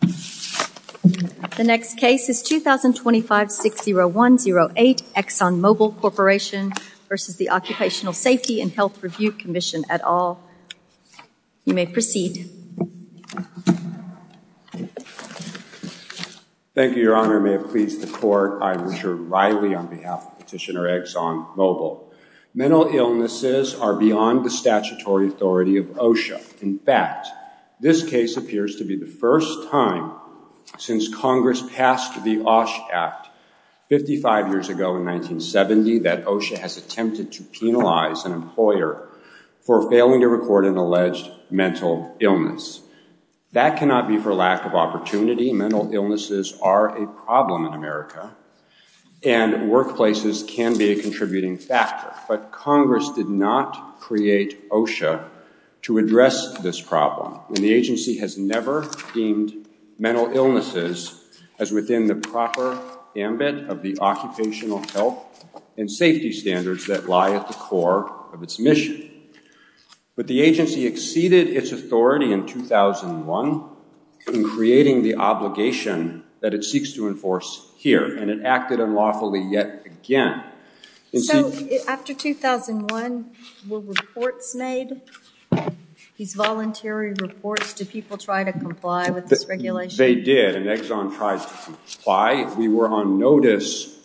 The next case is 2025-60108, Exxon Mobil Corporation v. the Occupational Safety and Health Review Commission, et al. You may proceed. Thank you, Your Honor. May it please the Court, I am Richard Riley on behalf of Petitioner Exxon Mobil. Mental illnesses are beyond the statutory authority of OSHA. In fact, this case appears to be the first time since Congress passed the OSH Act 55 years ago in 1970 that OSHA has attempted to penalize an employer for failing to record an alleged mental illness. That cannot be for lack of opportunity. Mental illnesses are a problem in America, and workplaces can be a contributing factor. But Congress did not create OSHA to address this problem, and the agency has never deemed mental illnesses as within the proper ambit of the occupational health and safety standards that lie at the core of its mission. But the agency exceeded its authority in 2001 in creating the obligation that it seeks to enforce here, and it acted unlawfully yet again. So, after 2001, were reports made, these voluntary reports, did people try to comply with this regulation? They did, and Exxon tried to comply. We were on notice,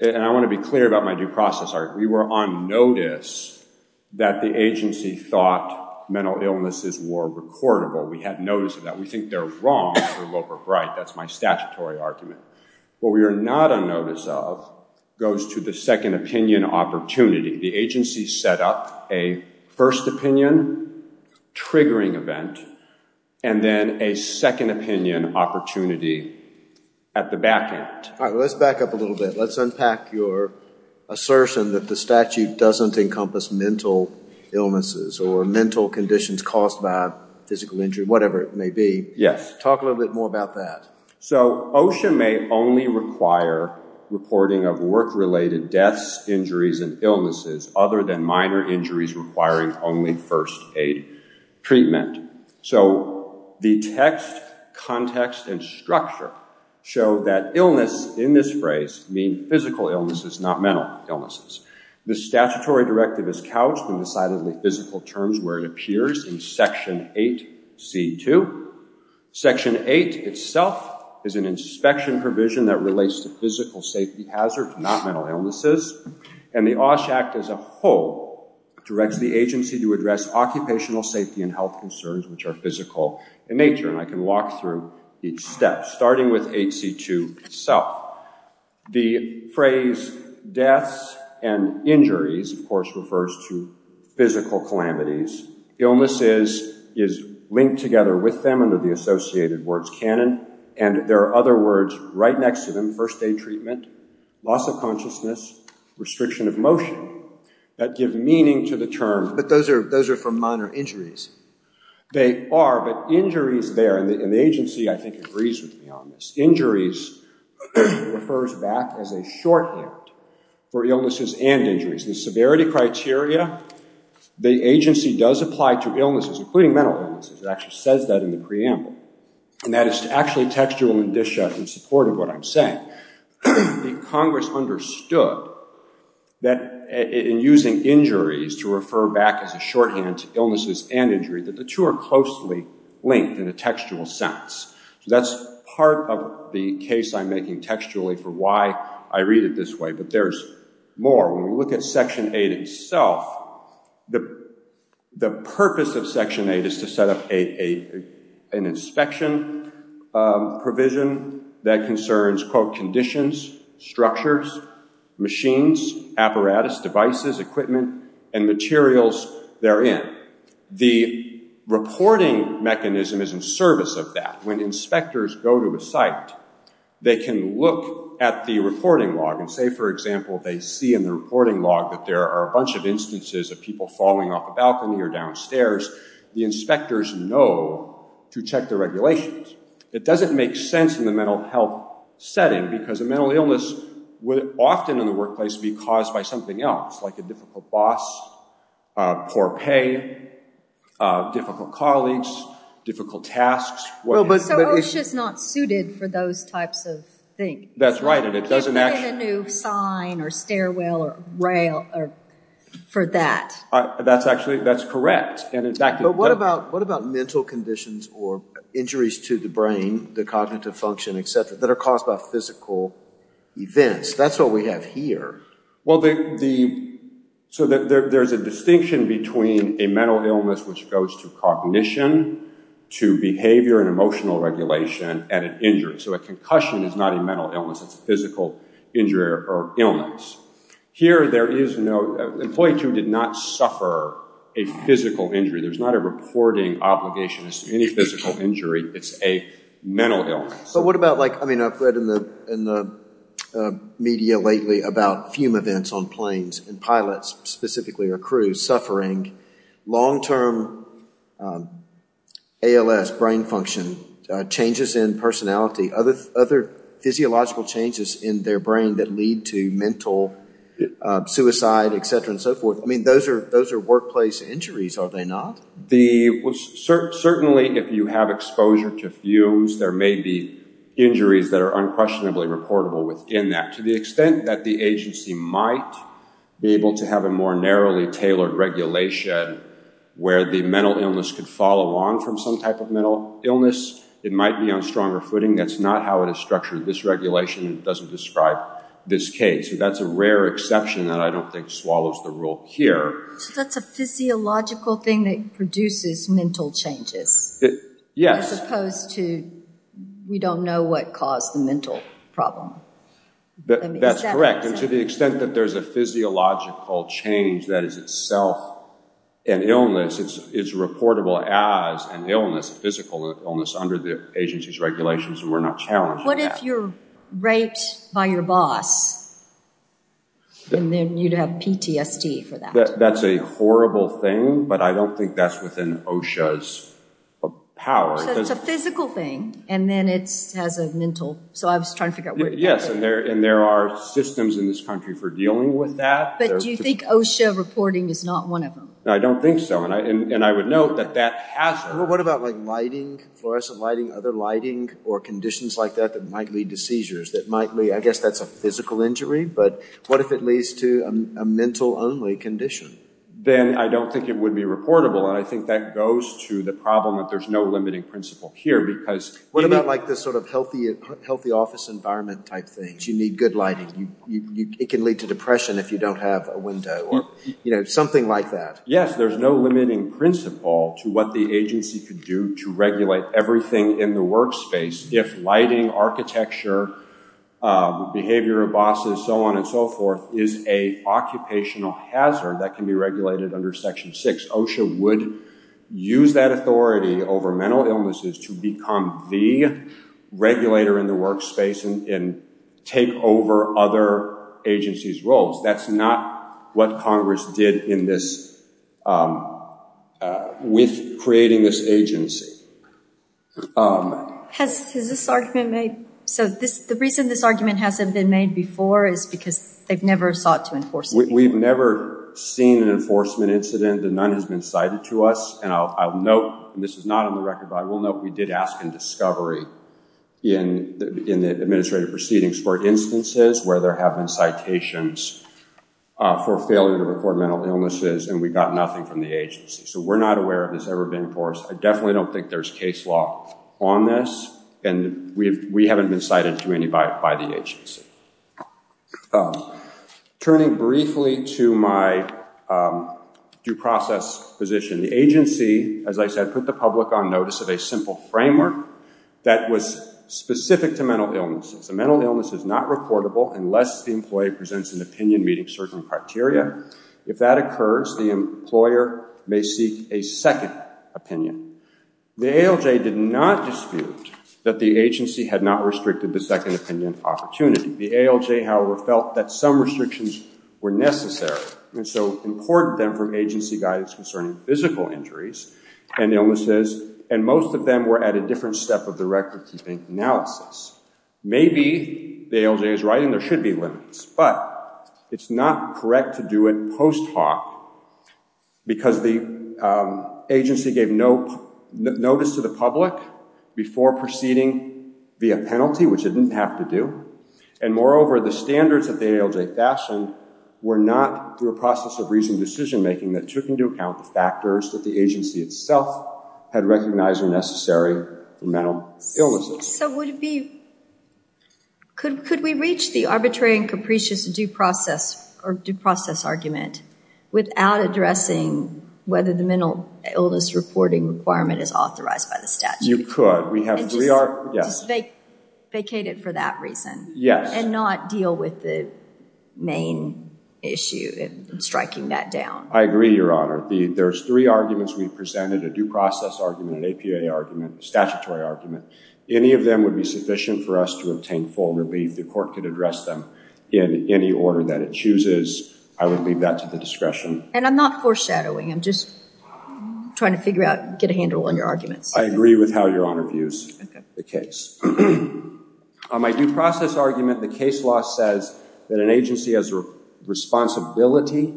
and I want to be clear about my due process, we were on notice that the agency thought mental illnesses were recordable. We had notice of that. We think they're wrong for Loper Bright, that's my statutory argument. What we are not on notice of goes to the second opinion opportunity. The agency set up a first opinion triggering event, and then a second opinion opportunity at the back end. All right, let's back up a little bit. Let's unpack your assertion that the statute doesn't encompass mental illnesses or mental conditions caused by physical injury, whatever it may be. Yes. Talk a little bit more about that. So, OSHA may only require reporting of work-related deaths, injuries, and illnesses, other than minor injuries requiring only first aid treatment. So, the text, context, and structure show that illness in this phrase mean physical illnesses, not mental illnesses. The statutory directive is couched in decidedly physical terms where it appears in Section 8C2. Section 8 itself is an inspection provision that relates to physical safety hazards, not mental illnesses, and the OSHA Act as a whole directs the agency to address occupational safety and health concerns, which are physical in nature, and I can walk through each step, starting with 8C2 itself. The phrase deaths and injuries, of course, refers to physical calamities. Illnesses is linked together with them under the associated words canon, and there are other words right next to them, first aid treatment, loss of consciousness, restriction of motion, that give meaning to the term. But those are for minor injuries. They are, but injuries there, and the agency, I think, agrees with me on this. Injuries refers back as a shorthand for illnesses and injuries. The severity criteria, the agency does apply to illnesses, including mental illnesses. It actually says that in the preamble, and that is actually textual in support of what I'm saying. Congress understood that in using injuries to refer back as a shorthand to illnesses and injury, that the two are closely linked in a textual sense. That's part of the case I'm making textually for why I read it this way, but there's more. When we look at Section 8 itself, the purpose of Section 8 is to set up an inspection provision that concerns, quote, conditions, structures, machines, apparatus, devices, equipment, and materials therein. The reporting mechanism is in service of that. When inspectors go to a site, they can look at the reporting log and say, for example, they see in the reporting log that there are a bunch of instances of people falling off a balcony or downstairs. The inspectors know to check the regulations. It doesn't make sense in the mental health setting, because a mental illness would often in the workplace be caused by something else, like a difficult boss, poor pay, difficult colleagues, difficult tasks. So OSHA's not suited for those types of things? That's right, and it doesn't actually... A new sign or stairwell or rail for that? That's correct. But what about mental conditions or injuries to the brain, the cognitive function, et cetera, that are caused by physical events? That's what we have here. Well, so there's a distinction between a mental illness, which goes to cognition, to behavior and emotional regulation, and an injury. So a concussion is not a mental illness. It's a physical injury or illness. Here, there is no... Employee 2 did not suffer a physical injury. There's not a reporting obligation as to any physical injury. It's a mental illness. But what about, like, I mean, I've read in the media lately about fume events on planes and pilots, specifically, or crews, suffering long-term ALS brain function, changes in personality, other physiological changes in their brain that lead to mental suicide, et cetera, and so forth. I mean, those are workplace injuries, are they not? Certainly, if you have exposure to fumes, there may be injuries that are unquestionably reportable within that. To the extent that the agency might be able to have a more narrowly tailored regulation where the mental illness could follow on from some type of mental illness, it might be on stronger footing. That's not how it is structured. This regulation doesn't describe this case. So that's a rare exception that I don't think swallows the rule here. So that's a physiological thing that produces mental changes? Yes. As opposed to, we don't know what caused the mental problem. That's correct. And to the extent that there's a physiological change that is itself an illness, it's reportable as an illness, a physical illness, under the agency's regulations, and we're not challenged by that. What if you're raped by your boss, and then you'd have PTSD for that? That's a horrible thing, but I don't think that's within OSHA's power. So it's a physical thing, and then it has a mental, so I was trying to figure out where you're talking about. Yes, and there are systems in this country for dealing with that. But do you think OSHA reporting is not one of them? I don't think so, and I would note that that has… What about lighting, fluorescent lighting, other lighting, or conditions like that that might lead to seizures? I guess that's a physical injury, but what if it leads to a mental-only condition? Then I don't think it would be reportable, and I think that goes to the problem that there's no limiting principle here. What about this sort of healthy office environment type thing? You need good lighting. It can lead to depression if you don't have a window, or something like that. Yes, there's no limiting principle to what the agency could do to regulate everything in the workspace if lighting, architecture, behavior of bosses, so on and so forth, is an occupational hazard that can be regulated under Section 6. OSHA would use that authority over mental illnesses to become the regulator in the workspace and take over other agencies' roles. That's not what Congress did with creating this agency. Has this argument made… The reason this argument hasn't been made before is because they've never sought to enforce it. We've never seen an enforcement incident, and none has been cited to us. I'll note, and this is not on the record, but I will note we did ask in discovery in the administrative proceedings for instances where there have been citations for failure to report mental illnesses, and we got nothing from the agency, so we're not aware of this ever being enforced. I definitely don't think there's case law on this, and we haven't been cited to anybody by the agency. Turning briefly to my due process position, the agency, as I said, put the public on notice of a simple framework that was specific to mental illnesses. A mental illness is not reportable unless the employee presents an opinion meeting certain criteria. If that occurs, the employer may seek a second opinion. The ALJ did not dispute that the agency had not restricted the second opinion opportunity. The ALJ, however, felt that some restrictions were necessary and so imported them from agency guidance concerning physical injuries and illnesses, and most of them were at a different step of the record-keeping analysis. Maybe the ALJ is right and there should be limits, but it's not correct to do it post hoc because the agency gave notice to the public before proceeding via penalty, which it didn't have to do, and moreover, the standards that the ALJ fashioned were not, through a process of reasoned decision-making, that took into account the factors that the agency itself had recognized were necessary for mental illnesses. So could we reach the arbitrary and capricious due process argument without addressing whether the mental illness reporting requirement is authorized by the statute? You could. And just vacate it for that reason? Yes. And not deal with the main issue in striking that down? I agree, Your Honor. There's three arguments we presented, a due process argument, an APA argument, a statutory argument. Any of them would be sufficient for us to obtain full relief. The court could address them in any order that it chooses. I would leave that to the discretion. And I'm not foreshadowing. I'm just trying to figure out, get a handle on your arguments. I agree with how Your Honor views the case. On my due process argument, the case law says that an agency has a responsibility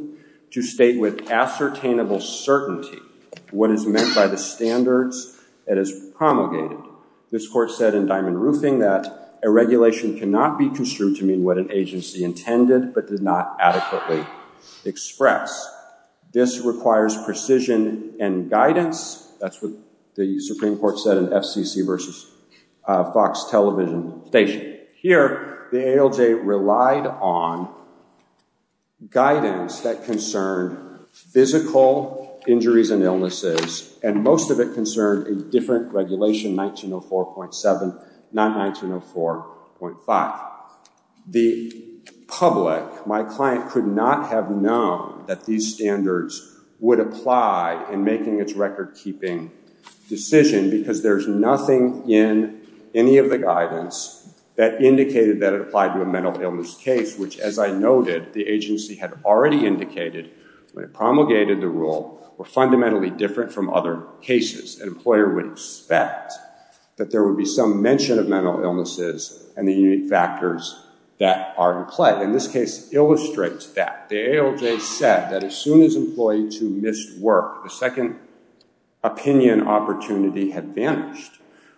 to state with ascertainable certainty what is meant by the standards it has promulgated. This court said in Diamond Roofing that a regulation cannot be construed to mean what an agency intended but did not adequately express. This requires precision and guidance. That's what the Supreme Court said in FCC v. Fox Television Station. Here, the ALJ relied on guidance that concerned physical injuries and illnesses, and most of it concerned a different regulation, 1904.7, not 1904.5. The public, my client, could not have known that these standards would apply in making its record-keeping decision because there's nothing in any of the guidance that indicated that it applied to a mental illness case, which, as I noted, the agency had already indicated when it promulgated the rule were fundamentally different from other cases. An employer would expect that there would be some mention of mental illnesses and the unique factors that are in play. And this case illustrates that. The ALJ said that as soon as Employee 2 missed work, the second opinion opportunity had vanished.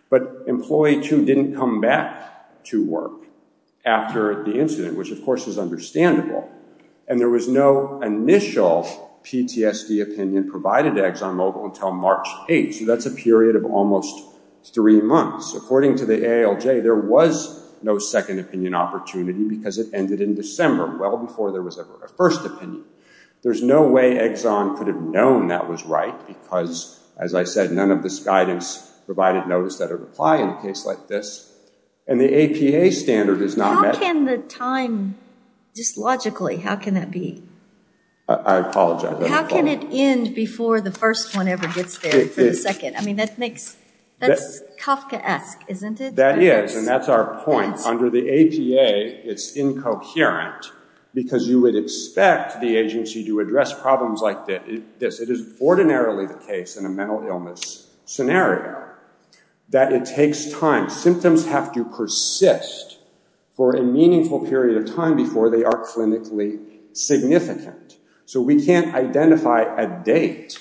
But Employee 2 didn't come back to work after the incident, which, of course, is understandable. And there was no initial PTSD opinion provided to ExxonMobil until March 8, so that's a period of almost three months. According to the ALJ, there was no second opinion opportunity because it ended in December, well before there was ever a first opinion. There's no way Exxon could have known that was right because, as I said, none of this guidance provided notice that it would apply in a case like this. And the APA standard is not met. How can the time, just logically, how can that be? I apologize. How can it end before the first one ever gets there for the second? I mean, that's Kafkaesque, isn't it? That is, and that's our point. Under the APA, it's incoherent because you would expect the agency to address problems like this. It is ordinarily the case in a mental illness scenario that it takes time. Symptoms have to persist for a meaningful period of time before they are clinically significant. So we can't identify a date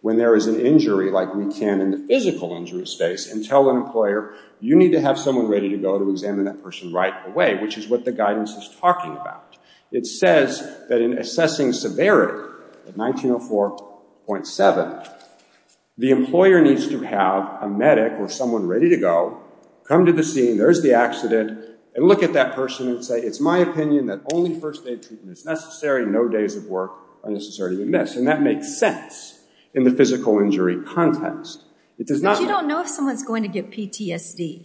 when there is an injury like we can in the physical injury space and tell an employer, you need to have someone ready to go to examine that person right away, which is what the guidance is talking about. It says that in assessing severity, 1904.7, the employer needs to have a medic or someone ready to go come to the scene, there's the accident, and look at that person and say, it's my opinion that only first aid treatment is necessary, no days of work are necessarily missed. And that makes sense in the physical injury context. But you don't know if someone's going to get PTSD.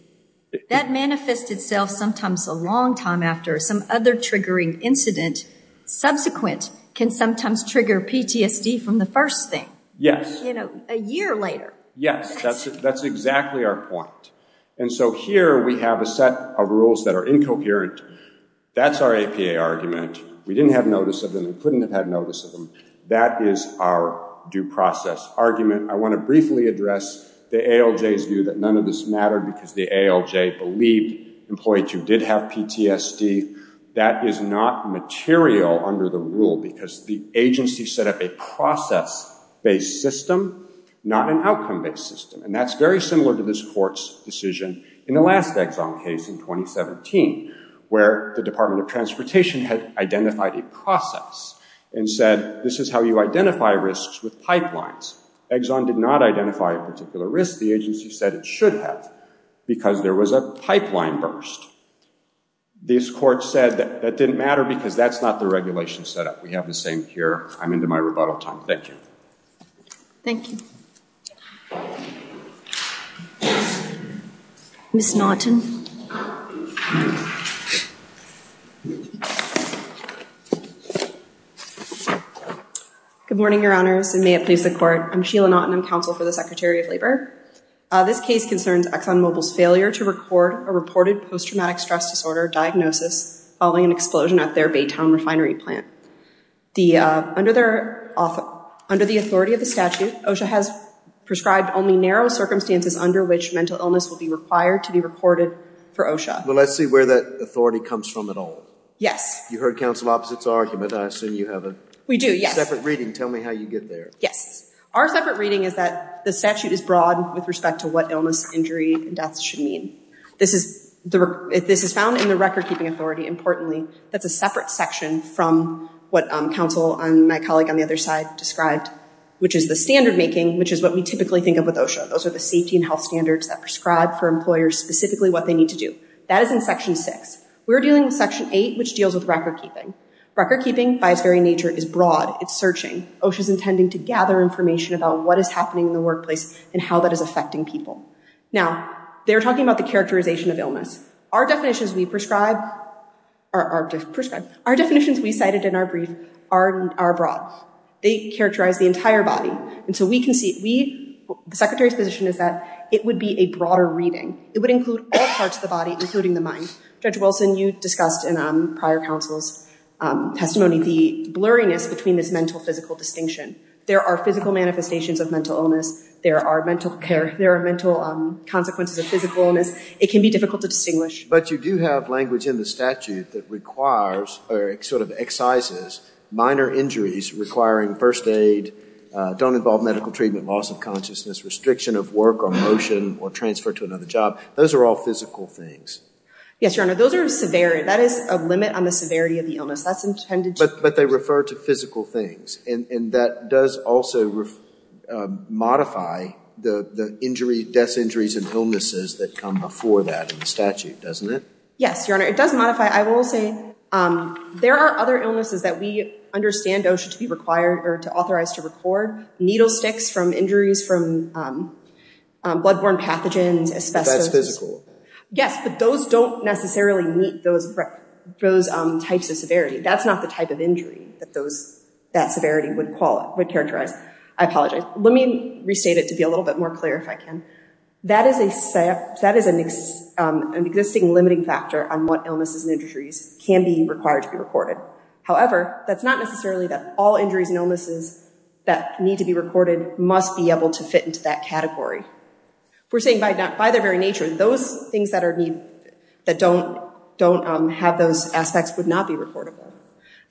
That manifests itself sometimes a long time after some other triggering incident. Subsequent can sometimes trigger PTSD from the first thing. Yes. You know, a year later. Yes, that's exactly our point. And so here we have a set of rules that are incoherent. That's our APA argument. We didn't have notice of them. We couldn't have had notice of them. That is our due process argument. I want to briefly address the ALJ's view that none of this mattered because the ALJ believed employees who did have PTSD. That is not material under the rule because the agency set up a process-based system, not an outcome-based system. And that's very similar to this court's decision in the last Exxon case in 2017, where the Department of Transportation had identified a process and said this is how you identify risks with pipelines. Exxon did not identify a particular risk. The agency said it should have because there was a pipeline burst. This court said that didn't matter because that's not the regulation set up. We have the same here. I'm into my rebuttal time. Thank you. Thank you. Ms. Naughton. Good morning, Your Honors, and may it please the court. I'm Sheila Naughton. I'm counsel for the Secretary of Labor. This case concerns ExxonMobil's failure to record a reported post-traumatic stress disorder diagnosis following an explosion at their Baytown refinery plant. Under the authority of the statute, OSHA has prescribed only narrow circumstances under which mental illness will be required to be reported for OSHA. Well, let's see where that authority comes from at all. Yes. You heard counsel opposite's argument. I assume you have a separate reading. Tell me how you get there. Yes. Our separate reading is that the statute is broad with respect to what illness, injury, and death should mean. This is found in the record-keeping authority. Importantly, that's a separate section from what counsel and my colleague on the other side described, which is the standard-making, which is what we typically think of with OSHA. Those are the safety and health standards that prescribe for employers specifically what they need to do. That is in Section 6. We're dealing with Section 8, which deals with record-keeping. Record-keeping, by its very nature, is broad. It's searching. OSHA is intending to gather information about what is happening in the workplace and how that is affecting people. Now, they're talking about the characterization of illness. Our definitions we prescribe are broad. They characterize the entire body. The Secretary's position is that it would be a broader reading. It would include all parts of the body, including the mind. Judge Wilson, you discussed in prior counsel's testimony the blurriness between this mental-physical distinction. There are physical manifestations of mental illness. There are mental consequences of physical illness. It can be difficult to distinguish. But you do have language in the statute that requires or sort of excises minor injuries requiring first aid, don't involve medical treatment, loss of consciousness, restriction of work or motion or transfer to another job. Those are all physical things. Yes, Your Honor. Those are severe. That is a limit on the severity of the illness. That's intended to… But they refer to physical things. And that does also modify the death injuries and illnesses that come before that in the statute, doesn't it? Yes, Your Honor. It does modify. I will say there are other illnesses that we understand should be required or authorized to record. Needle sticks from injuries from blood-borne pathogens, asbestos. That's physical. Yes, but those don't necessarily meet those types of severity. That's not the type of injury that severity would characterize. I apologize. Let me restate it to be a little bit more clear if I can. That is an existing limiting factor on what illnesses and injuries can be required to be recorded. However, that's not necessarily that all injuries and illnesses that need to be recorded must be able to fit into that category. We're saying by their very nature, those things that don't have those aspects would not be recordable.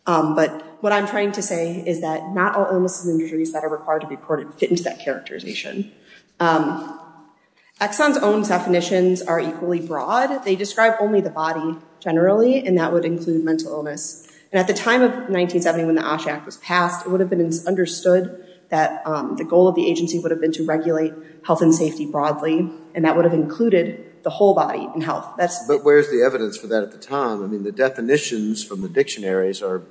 But what I'm trying to say is that not all illnesses and injuries that are required to be recorded fit into that characterization. Exxon's own definitions are equally broad. They describe only the body generally, and that would include mental illness. And at the time of 1970 when the OSH Act was passed, it would have been understood that the goal of the agency would have been to regulate health and safety broadly, and that would have included the whole body in health. But where's the evidence for that at the time? I mean, the definitions from the dictionaries are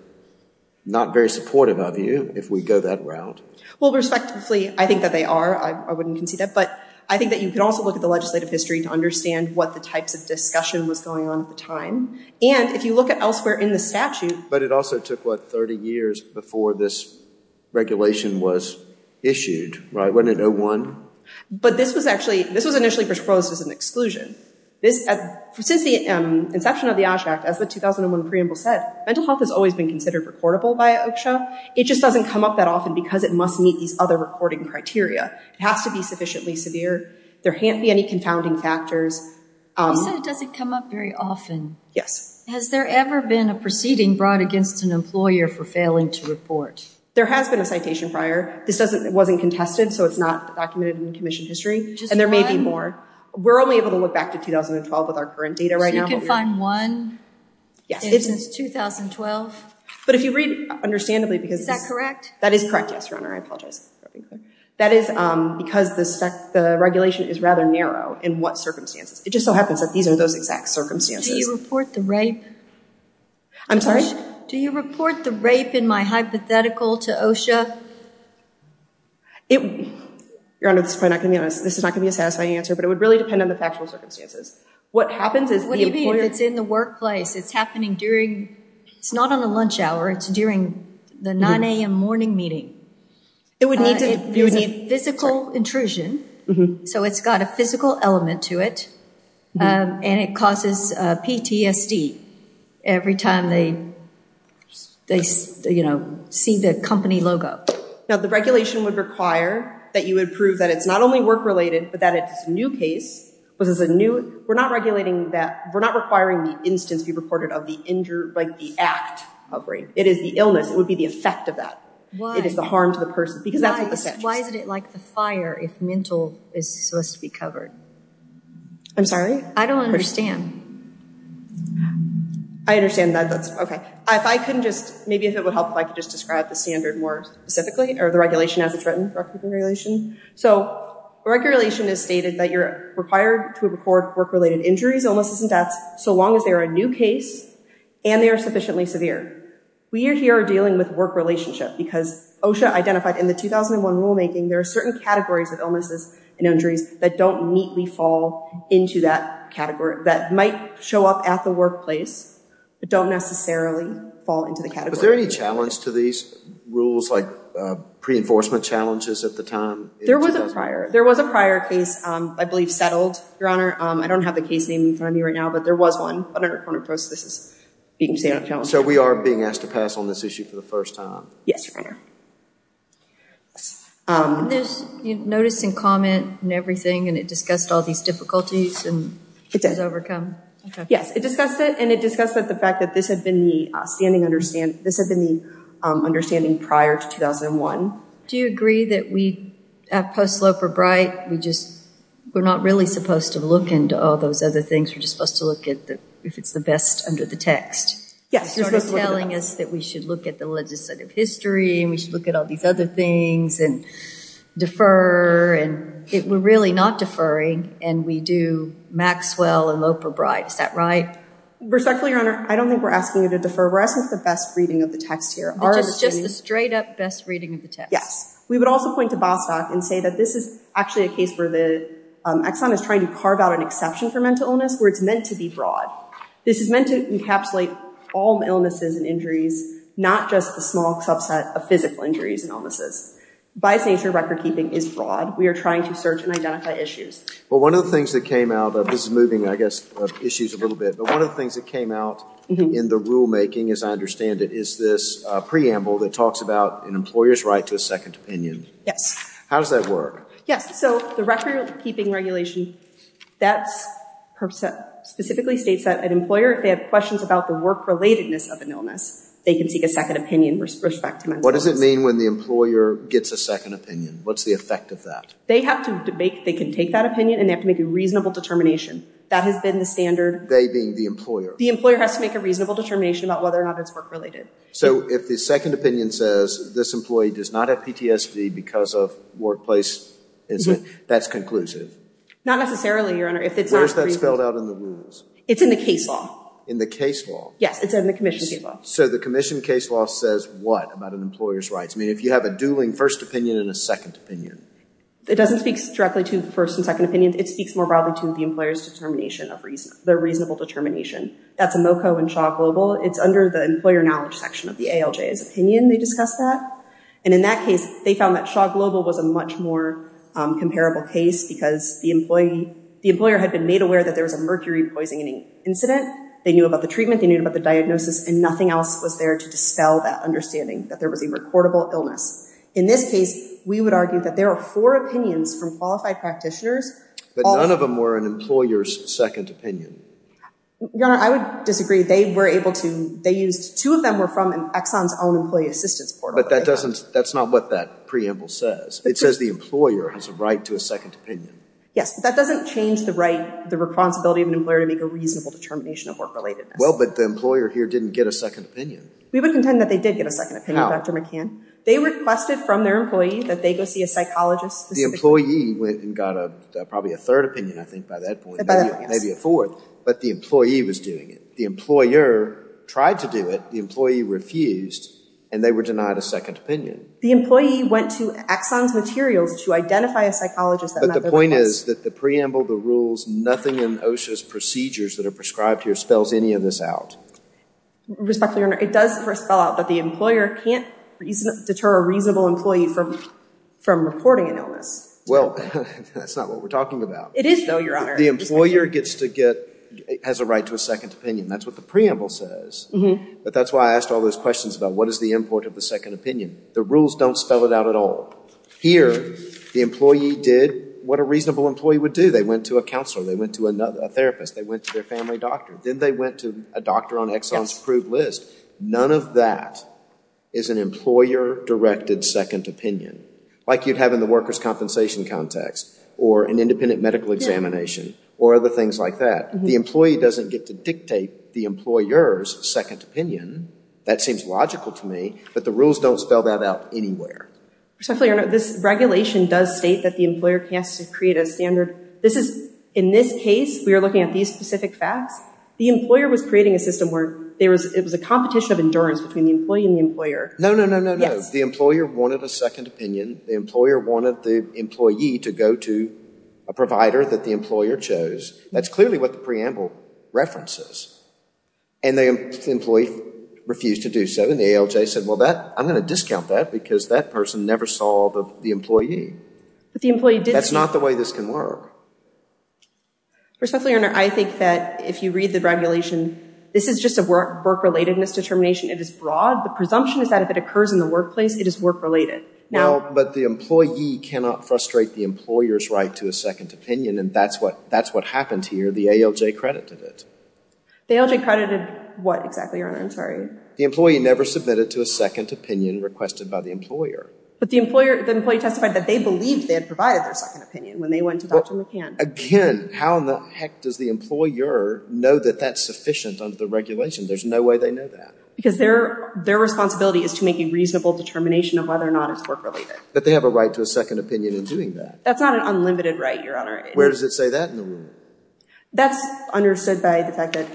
not very supportive, I view, if we go that route. Well, respectively, I think that they are. I wouldn't concede that. But I think that you could also look at the legislative history to understand what the types of discussion was going on at the time. And if you look at elsewhere in the statute. But it also took, what, 30 years before this regulation was issued, right? Wasn't it 01? But this was initially proposed as an exclusion. Since the inception of the OSH Act, as the 2001 preamble said, mental health has always been considered recordable by OSHA. It just doesn't come up that often because it must meet these other recording criteria. It has to be sufficiently severe. There can't be any confounding factors. You said it doesn't come up very often. Yes. Has there ever been a proceeding brought against an employer for failing to report? There has been a citation prior. This wasn't contested, so it's not documented in commission history. Just one? And there may be more. We're only able to look back to 2012 with our current data right now. So you can find one? Yes. Since 2012? But if you read, understandably, because this is. Is that correct? That is correct, yes, Your Honor. I apologize. That is because the regulation is rather narrow in what circumstances. It just so happens that these are those exact circumstances. Do you report the rape? I'm sorry? Do you report the rape in my hypothetical to OSHA? Your Honor, this is not going to be a satisfying answer, but it would really depend on the factual circumstances. What happens is the employer. What do you mean if it's in the workplace? It's happening during. It's not on a lunch hour. It's during the 9 a.m. morning meeting. It would need to. It would need physical intrusion. So it's got a physical element to it. And it causes PTSD every time they see the company logo. Now, the regulation would require that you would prove that it's not only work-related, but that it's a new case. We're not requiring the instance be reported of the injured, like the act of rape. It is the illness. It would be the effect of that. It is the harm to the person because that's what the statute says. Why is it like the fire if mental is supposed to be covered? I'm sorry? I don't understand. I understand that. That's okay. If I can just, maybe if it would help if I could just describe the standard more specifically, or the regulation as it's written. So regulation has stated that you're required to report work-related injuries, illnesses, and deaths so long as they are a new case and they are sufficiently severe. We here are dealing with work relationship because OSHA identified in the 2001 rulemaking there are certain categories of illnesses and injuries that don't neatly fall into that category, that might show up at the workplace, but don't necessarily fall into the category. Was there any challenge to these rules, like pre-enforcement challenges at the time? There was a prior. There was a prior case, I believe, settled, Your Honor. I don't have the case name in front of me right now, but there was one. But under a coroner's process, this is a challenge. So we are being asked to pass on this issue for the first time? Yes, Your Honor. And there's notice and comment and everything, and it discussed all these difficulties and issues overcome? Yes, it discussed it, and it discussed the fact that this had been the understanding prior to 2001. Do you agree that we, at Post Slope or Bright, we're not really supposed to look into all those other things? We're just supposed to look at if it's the best under the text? You're sort of telling us that we should look at the legislative history and we should look at all these other things and defer, and we're really not deferring, and we do Maxwell and Lope or Bright. Is that right? Respectfully, Your Honor, I don't think we're asking you to defer. We're asking for the best reading of the text here. Just the straight-up best reading of the text? Yes. We would also point to Bostock and say that this is actually a case where Exxon is trying to carve out an exception for mental illness where it's meant to be broad. This is meant to encapsulate all illnesses and injuries, not just the small subset of physical injuries and illnesses. By its nature, recordkeeping is broad. We are trying to search and identify issues. Well, one of the things that came out of this is moving, I guess, issues a little bit, but one of the things that came out in the rulemaking, as I understand it, is this preamble that talks about an employer's right to a second opinion. Yes. How does that work? Yes. So the recordkeeping regulation, that specifically states that an employer, if they have questions about the work-relatedness of an illness, they can seek a second opinion with respect to mental illness. What does it mean when the employer gets a second opinion? What's the effect of that? They can take that opinion and they have to make a reasonable determination. That has been the standard. They being the employer? The employer has to make a reasonable determination about whether or not it's work-related. So if the second opinion says, this employee does not have PTSD because of workplace incident, that's conclusive? Not necessarily, Your Honor. Where is that spelled out in the rules? It's in the case law. In the case law? Yes. It's in the commission case law. So the commission case law says what about an employer's rights? I mean, if you have a dueling first opinion and a second opinion. It doesn't speak directly to the first and second opinions. It speaks more broadly to the employer's determination of reason, their reasonable determination. That's a MoCo and Shaw Global. It's under the employer knowledge section of the ALJ's opinion. They discussed that. And in that case, they found that Shaw Global was a much more comparable case because the employer had been made aware that there was a mercury poisoning incident. They knew about the treatment. They knew about the diagnosis and nothing else was there to dispel that understanding that there was a reportable illness. In this case, we would argue that there are four opinions from qualified practitioners. But none of them were an employer's second opinion. Your Honor, I would disagree. They were able to, they used, two of them were from an Exxon's own employee assistance portal. But that doesn't, that's not what that preamble says. It says the employer has a right to a second opinion. Yes, but that doesn't change the right, the responsibility of an employer to make a reasonable determination of work relatedness. Well, but the employer here didn't get a second opinion. We would contend that they did get a second opinion, Dr. McCann. They requested from their employee that they go see a psychologist. The employee went and got probably a third opinion, I think, by that point. Maybe a fourth. But the employee was doing it. The employer tried to do it. The employee refused, and they were denied a second opinion. The employee went to Exxon's materials to identify a psychologist. But the point is that the preamble, the rules, nothing in OSHA's procedures that are prescribed here spells any of this out. Respectfully, Your Honor, it does spell out that the employer can't deter a reasonable employee from reporting an illness. Well, that's not what we're talking about. It is, though, Your Honor. The employer gets to get, has a right to a second opinion. That's what the preamble says. But that's why I asked all those questions about what is the import of the second opinion. The rules don't spell it out at all. Here, the employee did what a reasonable employee would do. They went to a counselor. They went to a therapist. They went to their family doctor. Then they went to a doctor on Exxon's approved list. None of that is an employer-directed second opinion, like you'd have in the workers' compensation context or an independent medical examination or other things like that. The employee doesn't get to dictate the employer's second opinion. That seems logical to me. But the rules don't spell that out anywhere. Respectfully, Your Honor, this regulation does state that the employer has to create a standard. This is, in this case, we are looking at these specific facts. The employer was creating a system where there was, it was a competition of endurance between the employee and the employer. No, no, no, no, no. The employer wanted a second opinion. The employer wanted the employee to go to a provider that the employer chose. That's clearly what the preamble references. And the employee refused to do so. And the ALJ said, well, I'm going to discount that because that person never saw the employee. That's not the way this can work. Respectfully, Your Honor, I think that if you read the regulation, this is just a work-relatedness determination. It is broad. The presumption is that if it occurs in the workplace, it is work-related. But the employee cannot frustrate the employer's right to a second opinion, and that's what happened here. The ALJ credited it. The ALJ credited what exactly, Your Honor? I'm sorry. The employee never submitted to a second opinion requested by the employer. But the employee testified that they believed they had provided their second opinion when they went to Dr. McCann. Again, how in the heck does the employer know that that's sufficient under the regulation? There's no way they know that. Because their responsibility is to make a reasonable determination of whether or not it's work-related. But they have a right to a second opinion in doing that. That's not an unlimited right, Your Honor. Where does it say that in the rule? That's understood by the fact that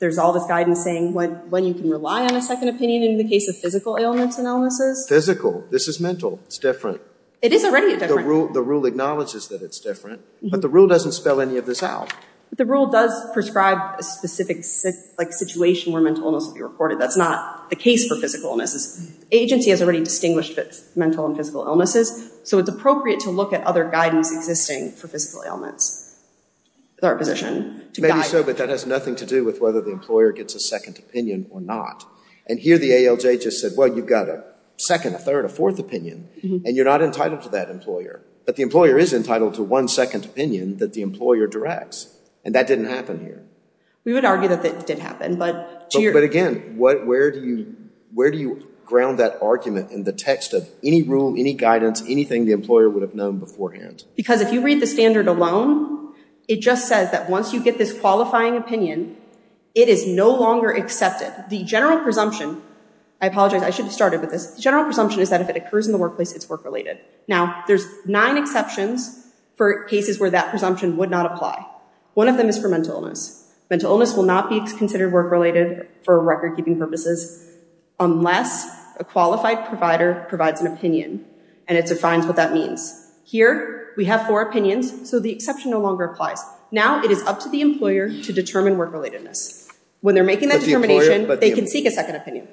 there's all this guidance saying when you can rely on a second opinion in the case of physical ailments and illnesses. Physical. This is mental. It's different. It is already different. The rule acknowledges that it's different. But the rule doesn't spell any of this out. The rule does prescribe a specific situation where mental illness will be reported. That's not the case for physical illnesses. Agency has already distinguished mental and physical illnesses, so it's appropriate to look at other guidance existing for physical ailments. Maybe so, but that has nothing to do with whether the employer gets a second opinion or not. And here the ALJ just said, well, you've got a second, a third, a fourth opinion, and you're not entitled to that employer. But the employer is entitled to one second opinion that the employer directs. And that didn't happen here. We would argue that it did happen. But again, where do you ground that argument in the text of any rule, any guidance, anything the employer would have known beforehand? Because if you read the standard alone, it just says that once you get this qualifying opinion, it is no longer accepted. The general presumption, I apologize, I should have started with this. The general presumption is that if it occurs in the workplace, it's work-related. Now, there's nine exceptions for cases where that presumption would not apply. One of them is for mental illness. Mental illness will not be considered work-related for record-keeping purposes unless a qualified provider provides an opinion, and it defines what that means. Here we have four opinions, so the exception no longer applies. Now it is up to the employer to determine work-relatedness. When they're making that determination, they can seek a second opinion.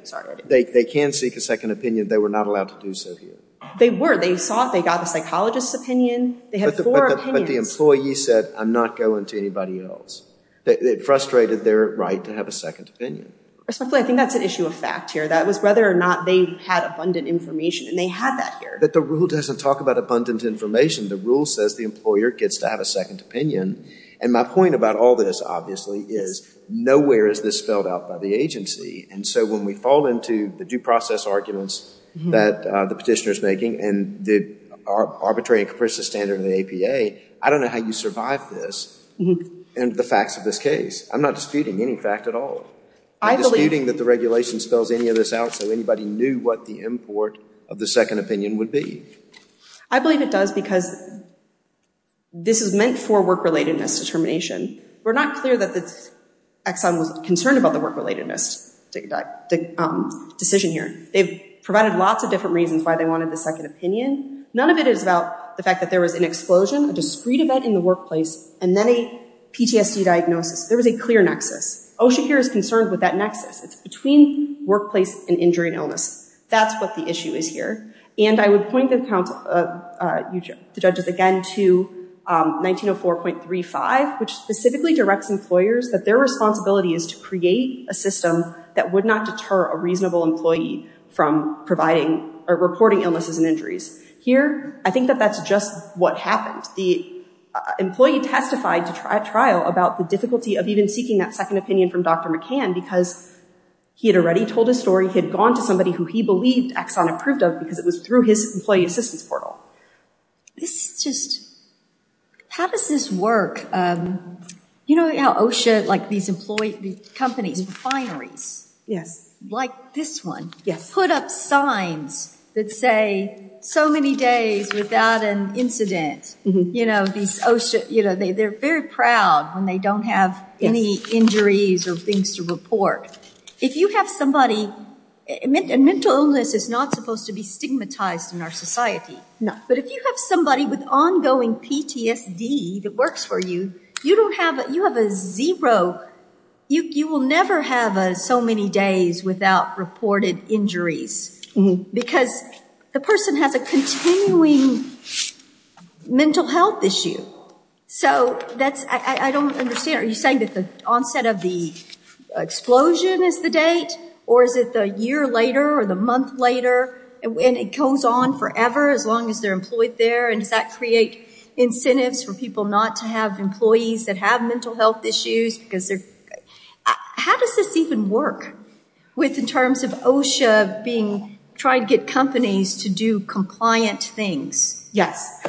They can seek a second opinion. They were not allowed to do so here. They were. They saw it. They got the psychologist's opinion. They had four opinions. But the employee said, I'm not going to anybody else. It frustrated their right to have a second opinion. I think that's an issue of fact here. That was whether or not they had abundant information, and they had that here. But the rule doesn't talk about abundant information. The rule says the employer gets to have a second opinion. And my point about all this, obviously, is nowhere is this spelled out by the agency. And so when we fall into the due process arguments that the petitioner is making and the arbitrary and capricious standard of the APA, I don't know how you survive this and the facts of this case. I'm not disputing any fact at all. I'm disputing that the regulation spells any of this out so anybody knew what the import of the second opinion would be. I believe it does because this is meant for work-relatedness determination. We're not clear that Exxon was concerned about the work-relatedness decision here. They've provided lots of different reasons why they wanted the second opinion. None of it is about the fact that there was an explosion, a discreet event in the workplace, and then a PTSD diagnosis. There was a clear nexus. OSHA here is concerned with that nexus. It's between workplace and injury and illness. That's what the issue is here. And I would point the judges again to 1904.35, which specifically directs employers that their responsibility is to create a system that would not deter a reasonable employee from reporting illnesses and injuries. Here, I think that that's just what happened. The employee testified at trial about the difficulty of even seeking that second opinion from Dr. McCann because he had already told his story. He had gone to somebody who he believed Exxon approved of because it was through his employee assistance portal. This just, how does this work? You know how OSHA, like these companies, refineries, like this one, put up signs that say, so many days without an incident. You know, they're very proud when they don't have any injuries or things to report. If you have somebody, and mental illness is not supposed to be stigmatized in our society, but if you have somebody with ongoing PTSD that works for you, you don't have, you have a zero, you will never have so many days without reported injuries because the person has a continuing mental health issue. So that's, I don't understand. Are you saying that the onset of the explosion is the date? Or is it the year later or the month later? And it goes on forever as long as they're employed there? And does that create incentives for people not to have employees that have mental health issues? Because they're, how does this even work? With in terms of OSHA being, trying to get companies to do compliant things. Yes.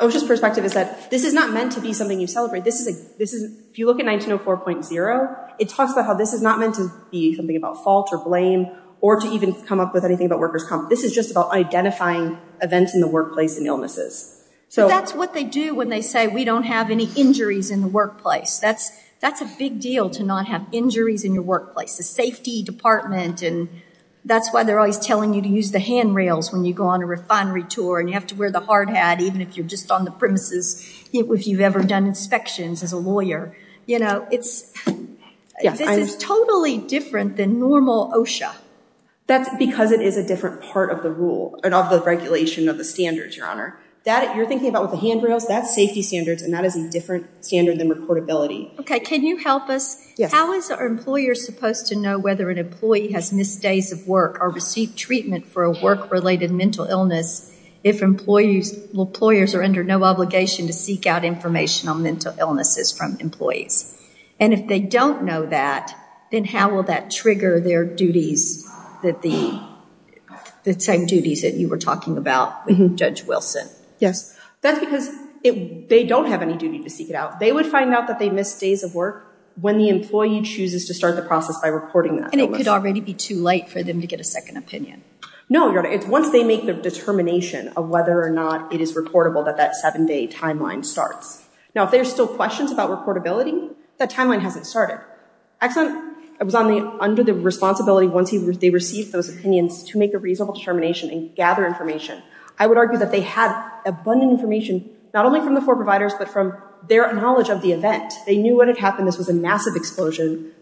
OSHA's perspective is that this is not meant to be something you celebrate. This is, if you look at 1904.0, it talks about how this is not meant to be something about fault or blame, or to even come up with anything about workers' comp. This is just about identifying events in the workplace and illnesses. But that's what they do when they say we don't have any injuries in the workplace. That's a big deal to not have injuries in your workplace. The safety department, and that's why they're always telling you to use the handrails when you go on a refinery tour and you have to wear the hard hat, even if you're just on the premises, if you've ever done inspections as a lawyer. You know, it's totally different than normal OSHA. That's because it is a different part of the rule, and of the regulation of the standards, Your Honor. That, you're thinking about with the handrails, that's safety standards, and that is a different standard than reportability. Okay, can you help us? Yes. How is our employer supposed to know whether an employee has missed days of work or received treatment for a work-related mental illness if employers are under no obligation to seek out information on mental illnesses from employees? And if they don't know that, then how will that trigger their duties, the same duties that you were talking about, Judge Wilson? Yes. That's because they don't have any duty to seek it out. They would find out that they missed days of work when the employee chooses to start the process by reporting that. And it could already be too late for them to get a second opinion. No, Your Honor. It's once they make the determination of whether or not it is reportable that that seven-day timeline starts. Now, if there are still questions about reportability, that timeline hasn't started. Exxon was under the responsibility once they received those opinions to make a reasonable determination and gather information. I would argue that they had abundant information, not only from the four providers, but from their knowledge of the event. They knew what had happened. This was a massive explosion.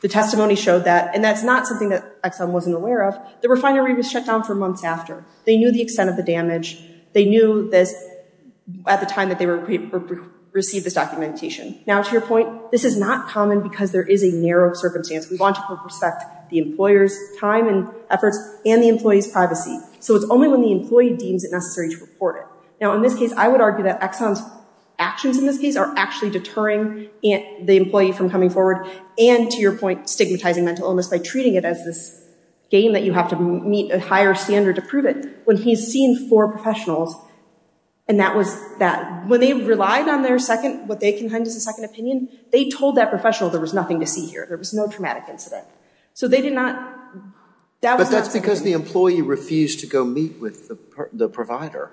The testimony showed that. And that's not something that Exxon wasn't aware of. The refinery was shut down for months after. They knew the extent of the damage. They knew at the time that they received this documentation. Now, to your point, this is not common because there is a narrow circumstance. We want to respect the employer's time and efforts and the employee's privacy. So it's only when the employee deems it necessary to report it. Now, in this case, I would argue that Exxon's actions in this case are actually deterring the employee from coming forward and, to your point, stigmatizing mental illness by treating it as this game that you have to meet a higher standard to prove it. When he's seen four professionals, and that was that. When they relied on their second, what they considered as a second opinion, they told that professional there was nothing to see here. There was no traumatic incident. So they did not. But that's because the employee refused to go meet with the provider.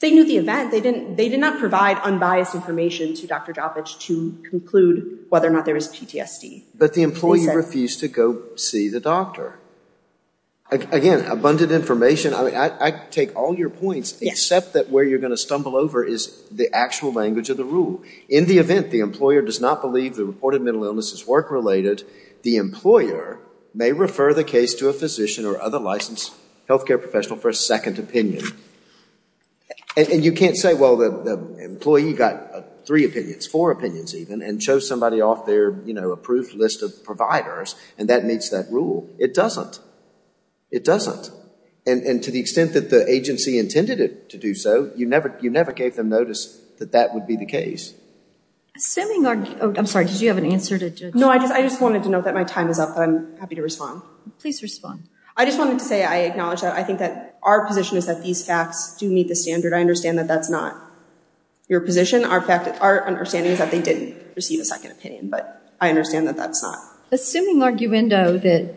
They knew the event. They did not provide unbiased information to Dr. Jopic to conclude whether or not there was PTSD. But the employee refused to go see the doctor. Again, abundant information. I take all your points, except that where you're going to stumble over is the actual language of the rule. In the event the employer does not believe the reported mental illness is work-related, the employer may refer the case to a physician or other licensed health care professional for a second opinion. And you can't say, well, the employee got three opinions, four opinions even, and chose somebody off their approved list of providers, and that meets that rule. It doesn't. It doesn't. And to the extent that the agency intended it to do so, you never gave them notice that that would be the case. I'm sorry, did you have an answer? No, I just wanted to note that my time is up, but I'm happy to respond. Please respond. I just wanted to say I acknowledge that. I think that our position is that these facts do meet the standard. I understand that that's not your position. Our understanding is that they didn't receive a second opinion, but I understand that that's not. Assuming arguendo that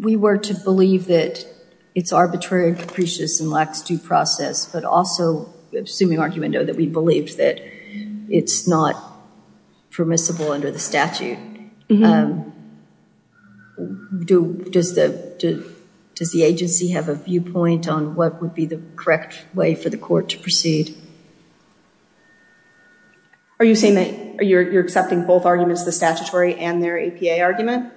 we were to believe that it's arbitrary and capricious and lacks due process, but also assuming arguendo that we believed that it's not permissible under the statute, does the agency have a viewpoint on what would be the correct way for the court to proceed? Are you saying that you're accepting both arguments, the statutory and their APA argument?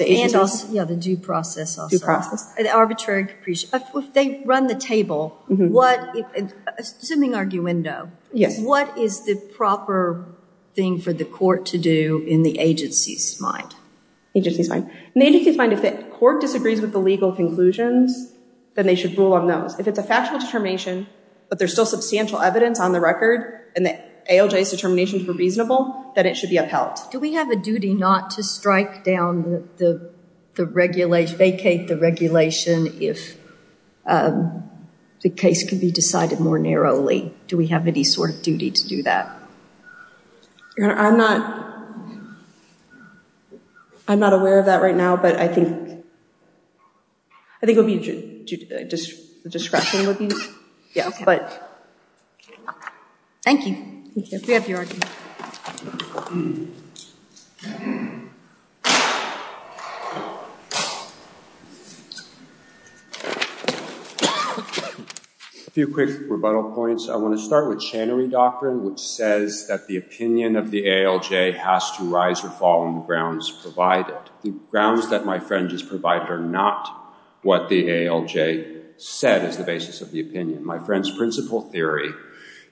And also, yeah, the due process also. Due process. Arbitrary and capricious. If they run the table, assuming arguendo, what is the proper thing for the court to do in the agency's mind? In the agency's mind, if the court disagrees with the legal conclusions, then they should rule on those. If it's a factual determination, but there's still substantial evidence on the record and the ALJ's determinations were reasonable, then it should be upheld. Do we have a duty not to strike down the regulation, vacate the regulation if the case can be decided more narrowly? Do we have any sort of duty to do that? Your Honor, I'm not aware of that right now, but I think it would be discretion would be useful. Thank you. We have your argument. A few quick rebuttal points. I want to start with Channery Doctrine, which says that the opinion of the ALJ has to rise or fall on the grounds provided. The grounds that my friend just provided are not what the ALJ said is the basis of the opinion. My friend's principle theory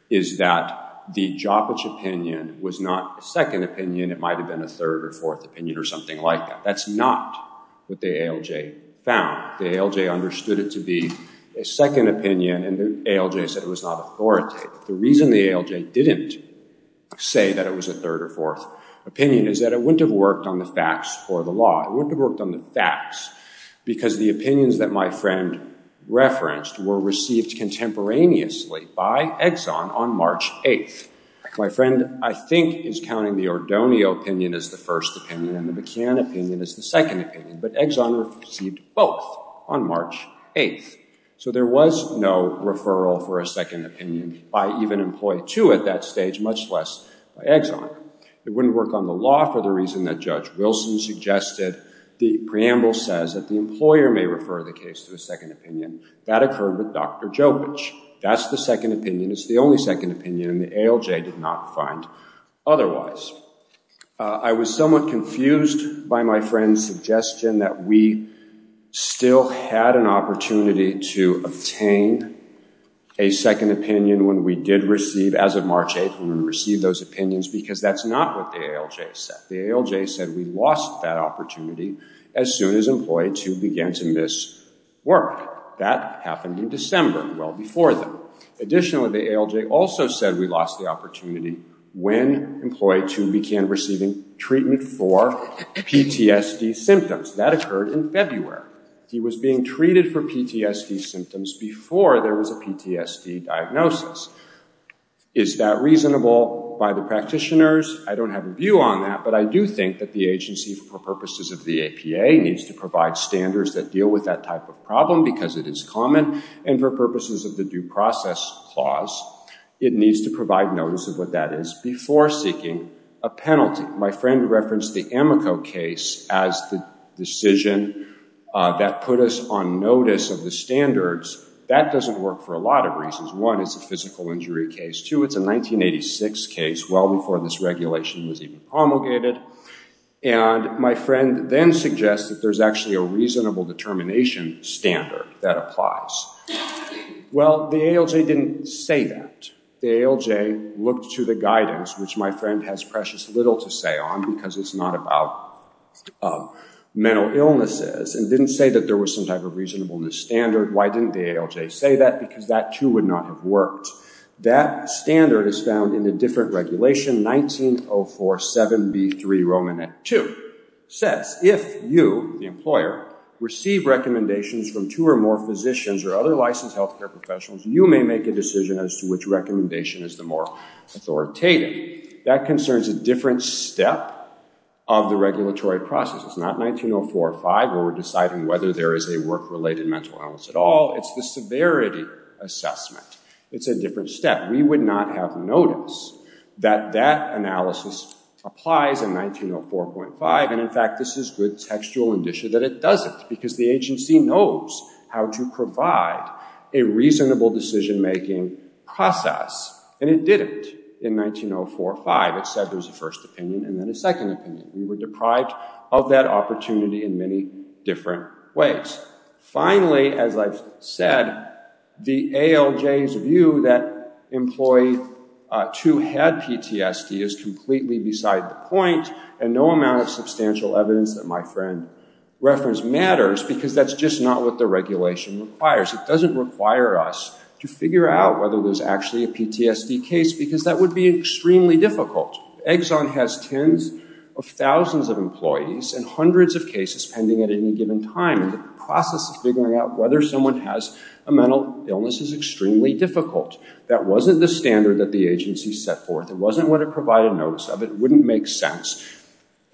is that the Joppa opinion was not a second opinion. It might have been a third or fourth opinion or something like that. That's not what the ALJ found. The ALJ understood it to be a second opinion and the ALJ said it was not authoritative. The reason the ALJ didn't say that it was a third or fourth opinion is that it wouldn't have worked on the facts or the law. It wouldn't have worked on the facts because the opinions that my friend referenced were received contemporaneously by Exxon on March 8th. My friend, I think, is counting the Ordoneo opinion as the first opinion and the McCann opinion as the second opinion, but Exxon received both on March 8th. So there was no referral for a second opinion by even employee two at that stage, much less by Exxon. It wouldn't work on the law for the reason that Judge Wilson suggested. The preamble says that the employer may refer the case to a second opinion. That occurred with Dr. Jopic. That's the second opinion. It's the only second opinion and the ALJ did not find otherwise. I was somewhat confused by my friend's suggestion that we still had an opportunity to obtain a second opinion when we did receive, as of March 8th, because that's not what the ALJ said. The ALJ said we lost that opportunity as soon as employee two began to miss work. That happened in December, well before that. Additionally, the ALJ also said we lost the opportunity when employee two began receiving treatment for PTSD symptoms. That occurred in February. He was being treated for PTSD symptoms before there was a PTSD diagnosis. Is that reasonable by the practitioners? I don't have a view on that, but I do think that the agency, for purposes of the APA, needs to provide standards that deal with that type of problem because it is common, and for purposes of the Due Process Clause, it needs to provide notice of what that is before seeking a penalty. My friend referenced the Amico case as the decision that put us on notice of the standards. That doesn't work for a lot of reasons. One, it's a physical injury case. Two, it's a 1986 case, well before this regulation was even promulgated. And my friend then suggests that there's actually a reasonable determination standard that applies. Well, the ALJ didn't say that. The ALJ looked to the guidance, which my friend has precious little to say on because it's not about mental illnesses, and didn't say that there was some type of reasonableness standard. Why didn't the ALJ say that? Because that, too, would not have worked. That standard is found in a different regulation, 19047b3, Romanette 2. It says, if you, the employer, receive recommendations from two or more physicians or other licensed health care professionals, you may make a decision as to which recommendation is the more authoritative. That concerns a different step of the regulatory process. It's not 19045 where we're deciding whether there is a work-related mental illness at all. It's the severity assessment. It's a different step. We would not have noticed that that analysis applies in 1904.5, and, in fact, this is good textual indicia that it doesn't because the agency knows how to provide a reasonable decision-making process, and it didn't in 1904.5. It said there's a first opinion and then a second opinion. We were deprived of that opportunity in many different ways. Finally, as I've said, the ALJ's view that employee 2 had PTSD is completely beside the point, and no amount of substantial evidence that my friend referenced matters because that's just not what the regulation requires. It doesn't require us to figure out whether there's actually a PTSD case because that would be extremely difficult. Exxon has tens of thousands of employees and hundreds of cases pending at any given time, and the process of figuring out whether someone has a mental illness is extremely difficult. That wasn't the standard that the agency set forth. It wasn't what it provided notice of. It wouldn't make sense.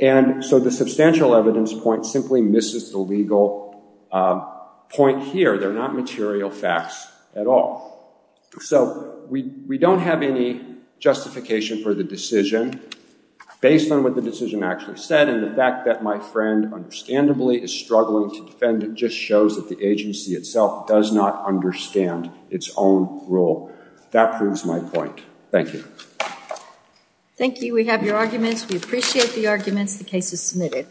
And so the substantial evidence point simply misses the legal point here. They're not material facts at all. So we don't have any justification for the decision based on what the decision actually said and the fact that my friend understandably is struggling to defend just shows that the agency itself does not understand its own rule. That proves my point. Thank you. Thank you. We have your arguments. We appreciate the arguments. The case is submitted.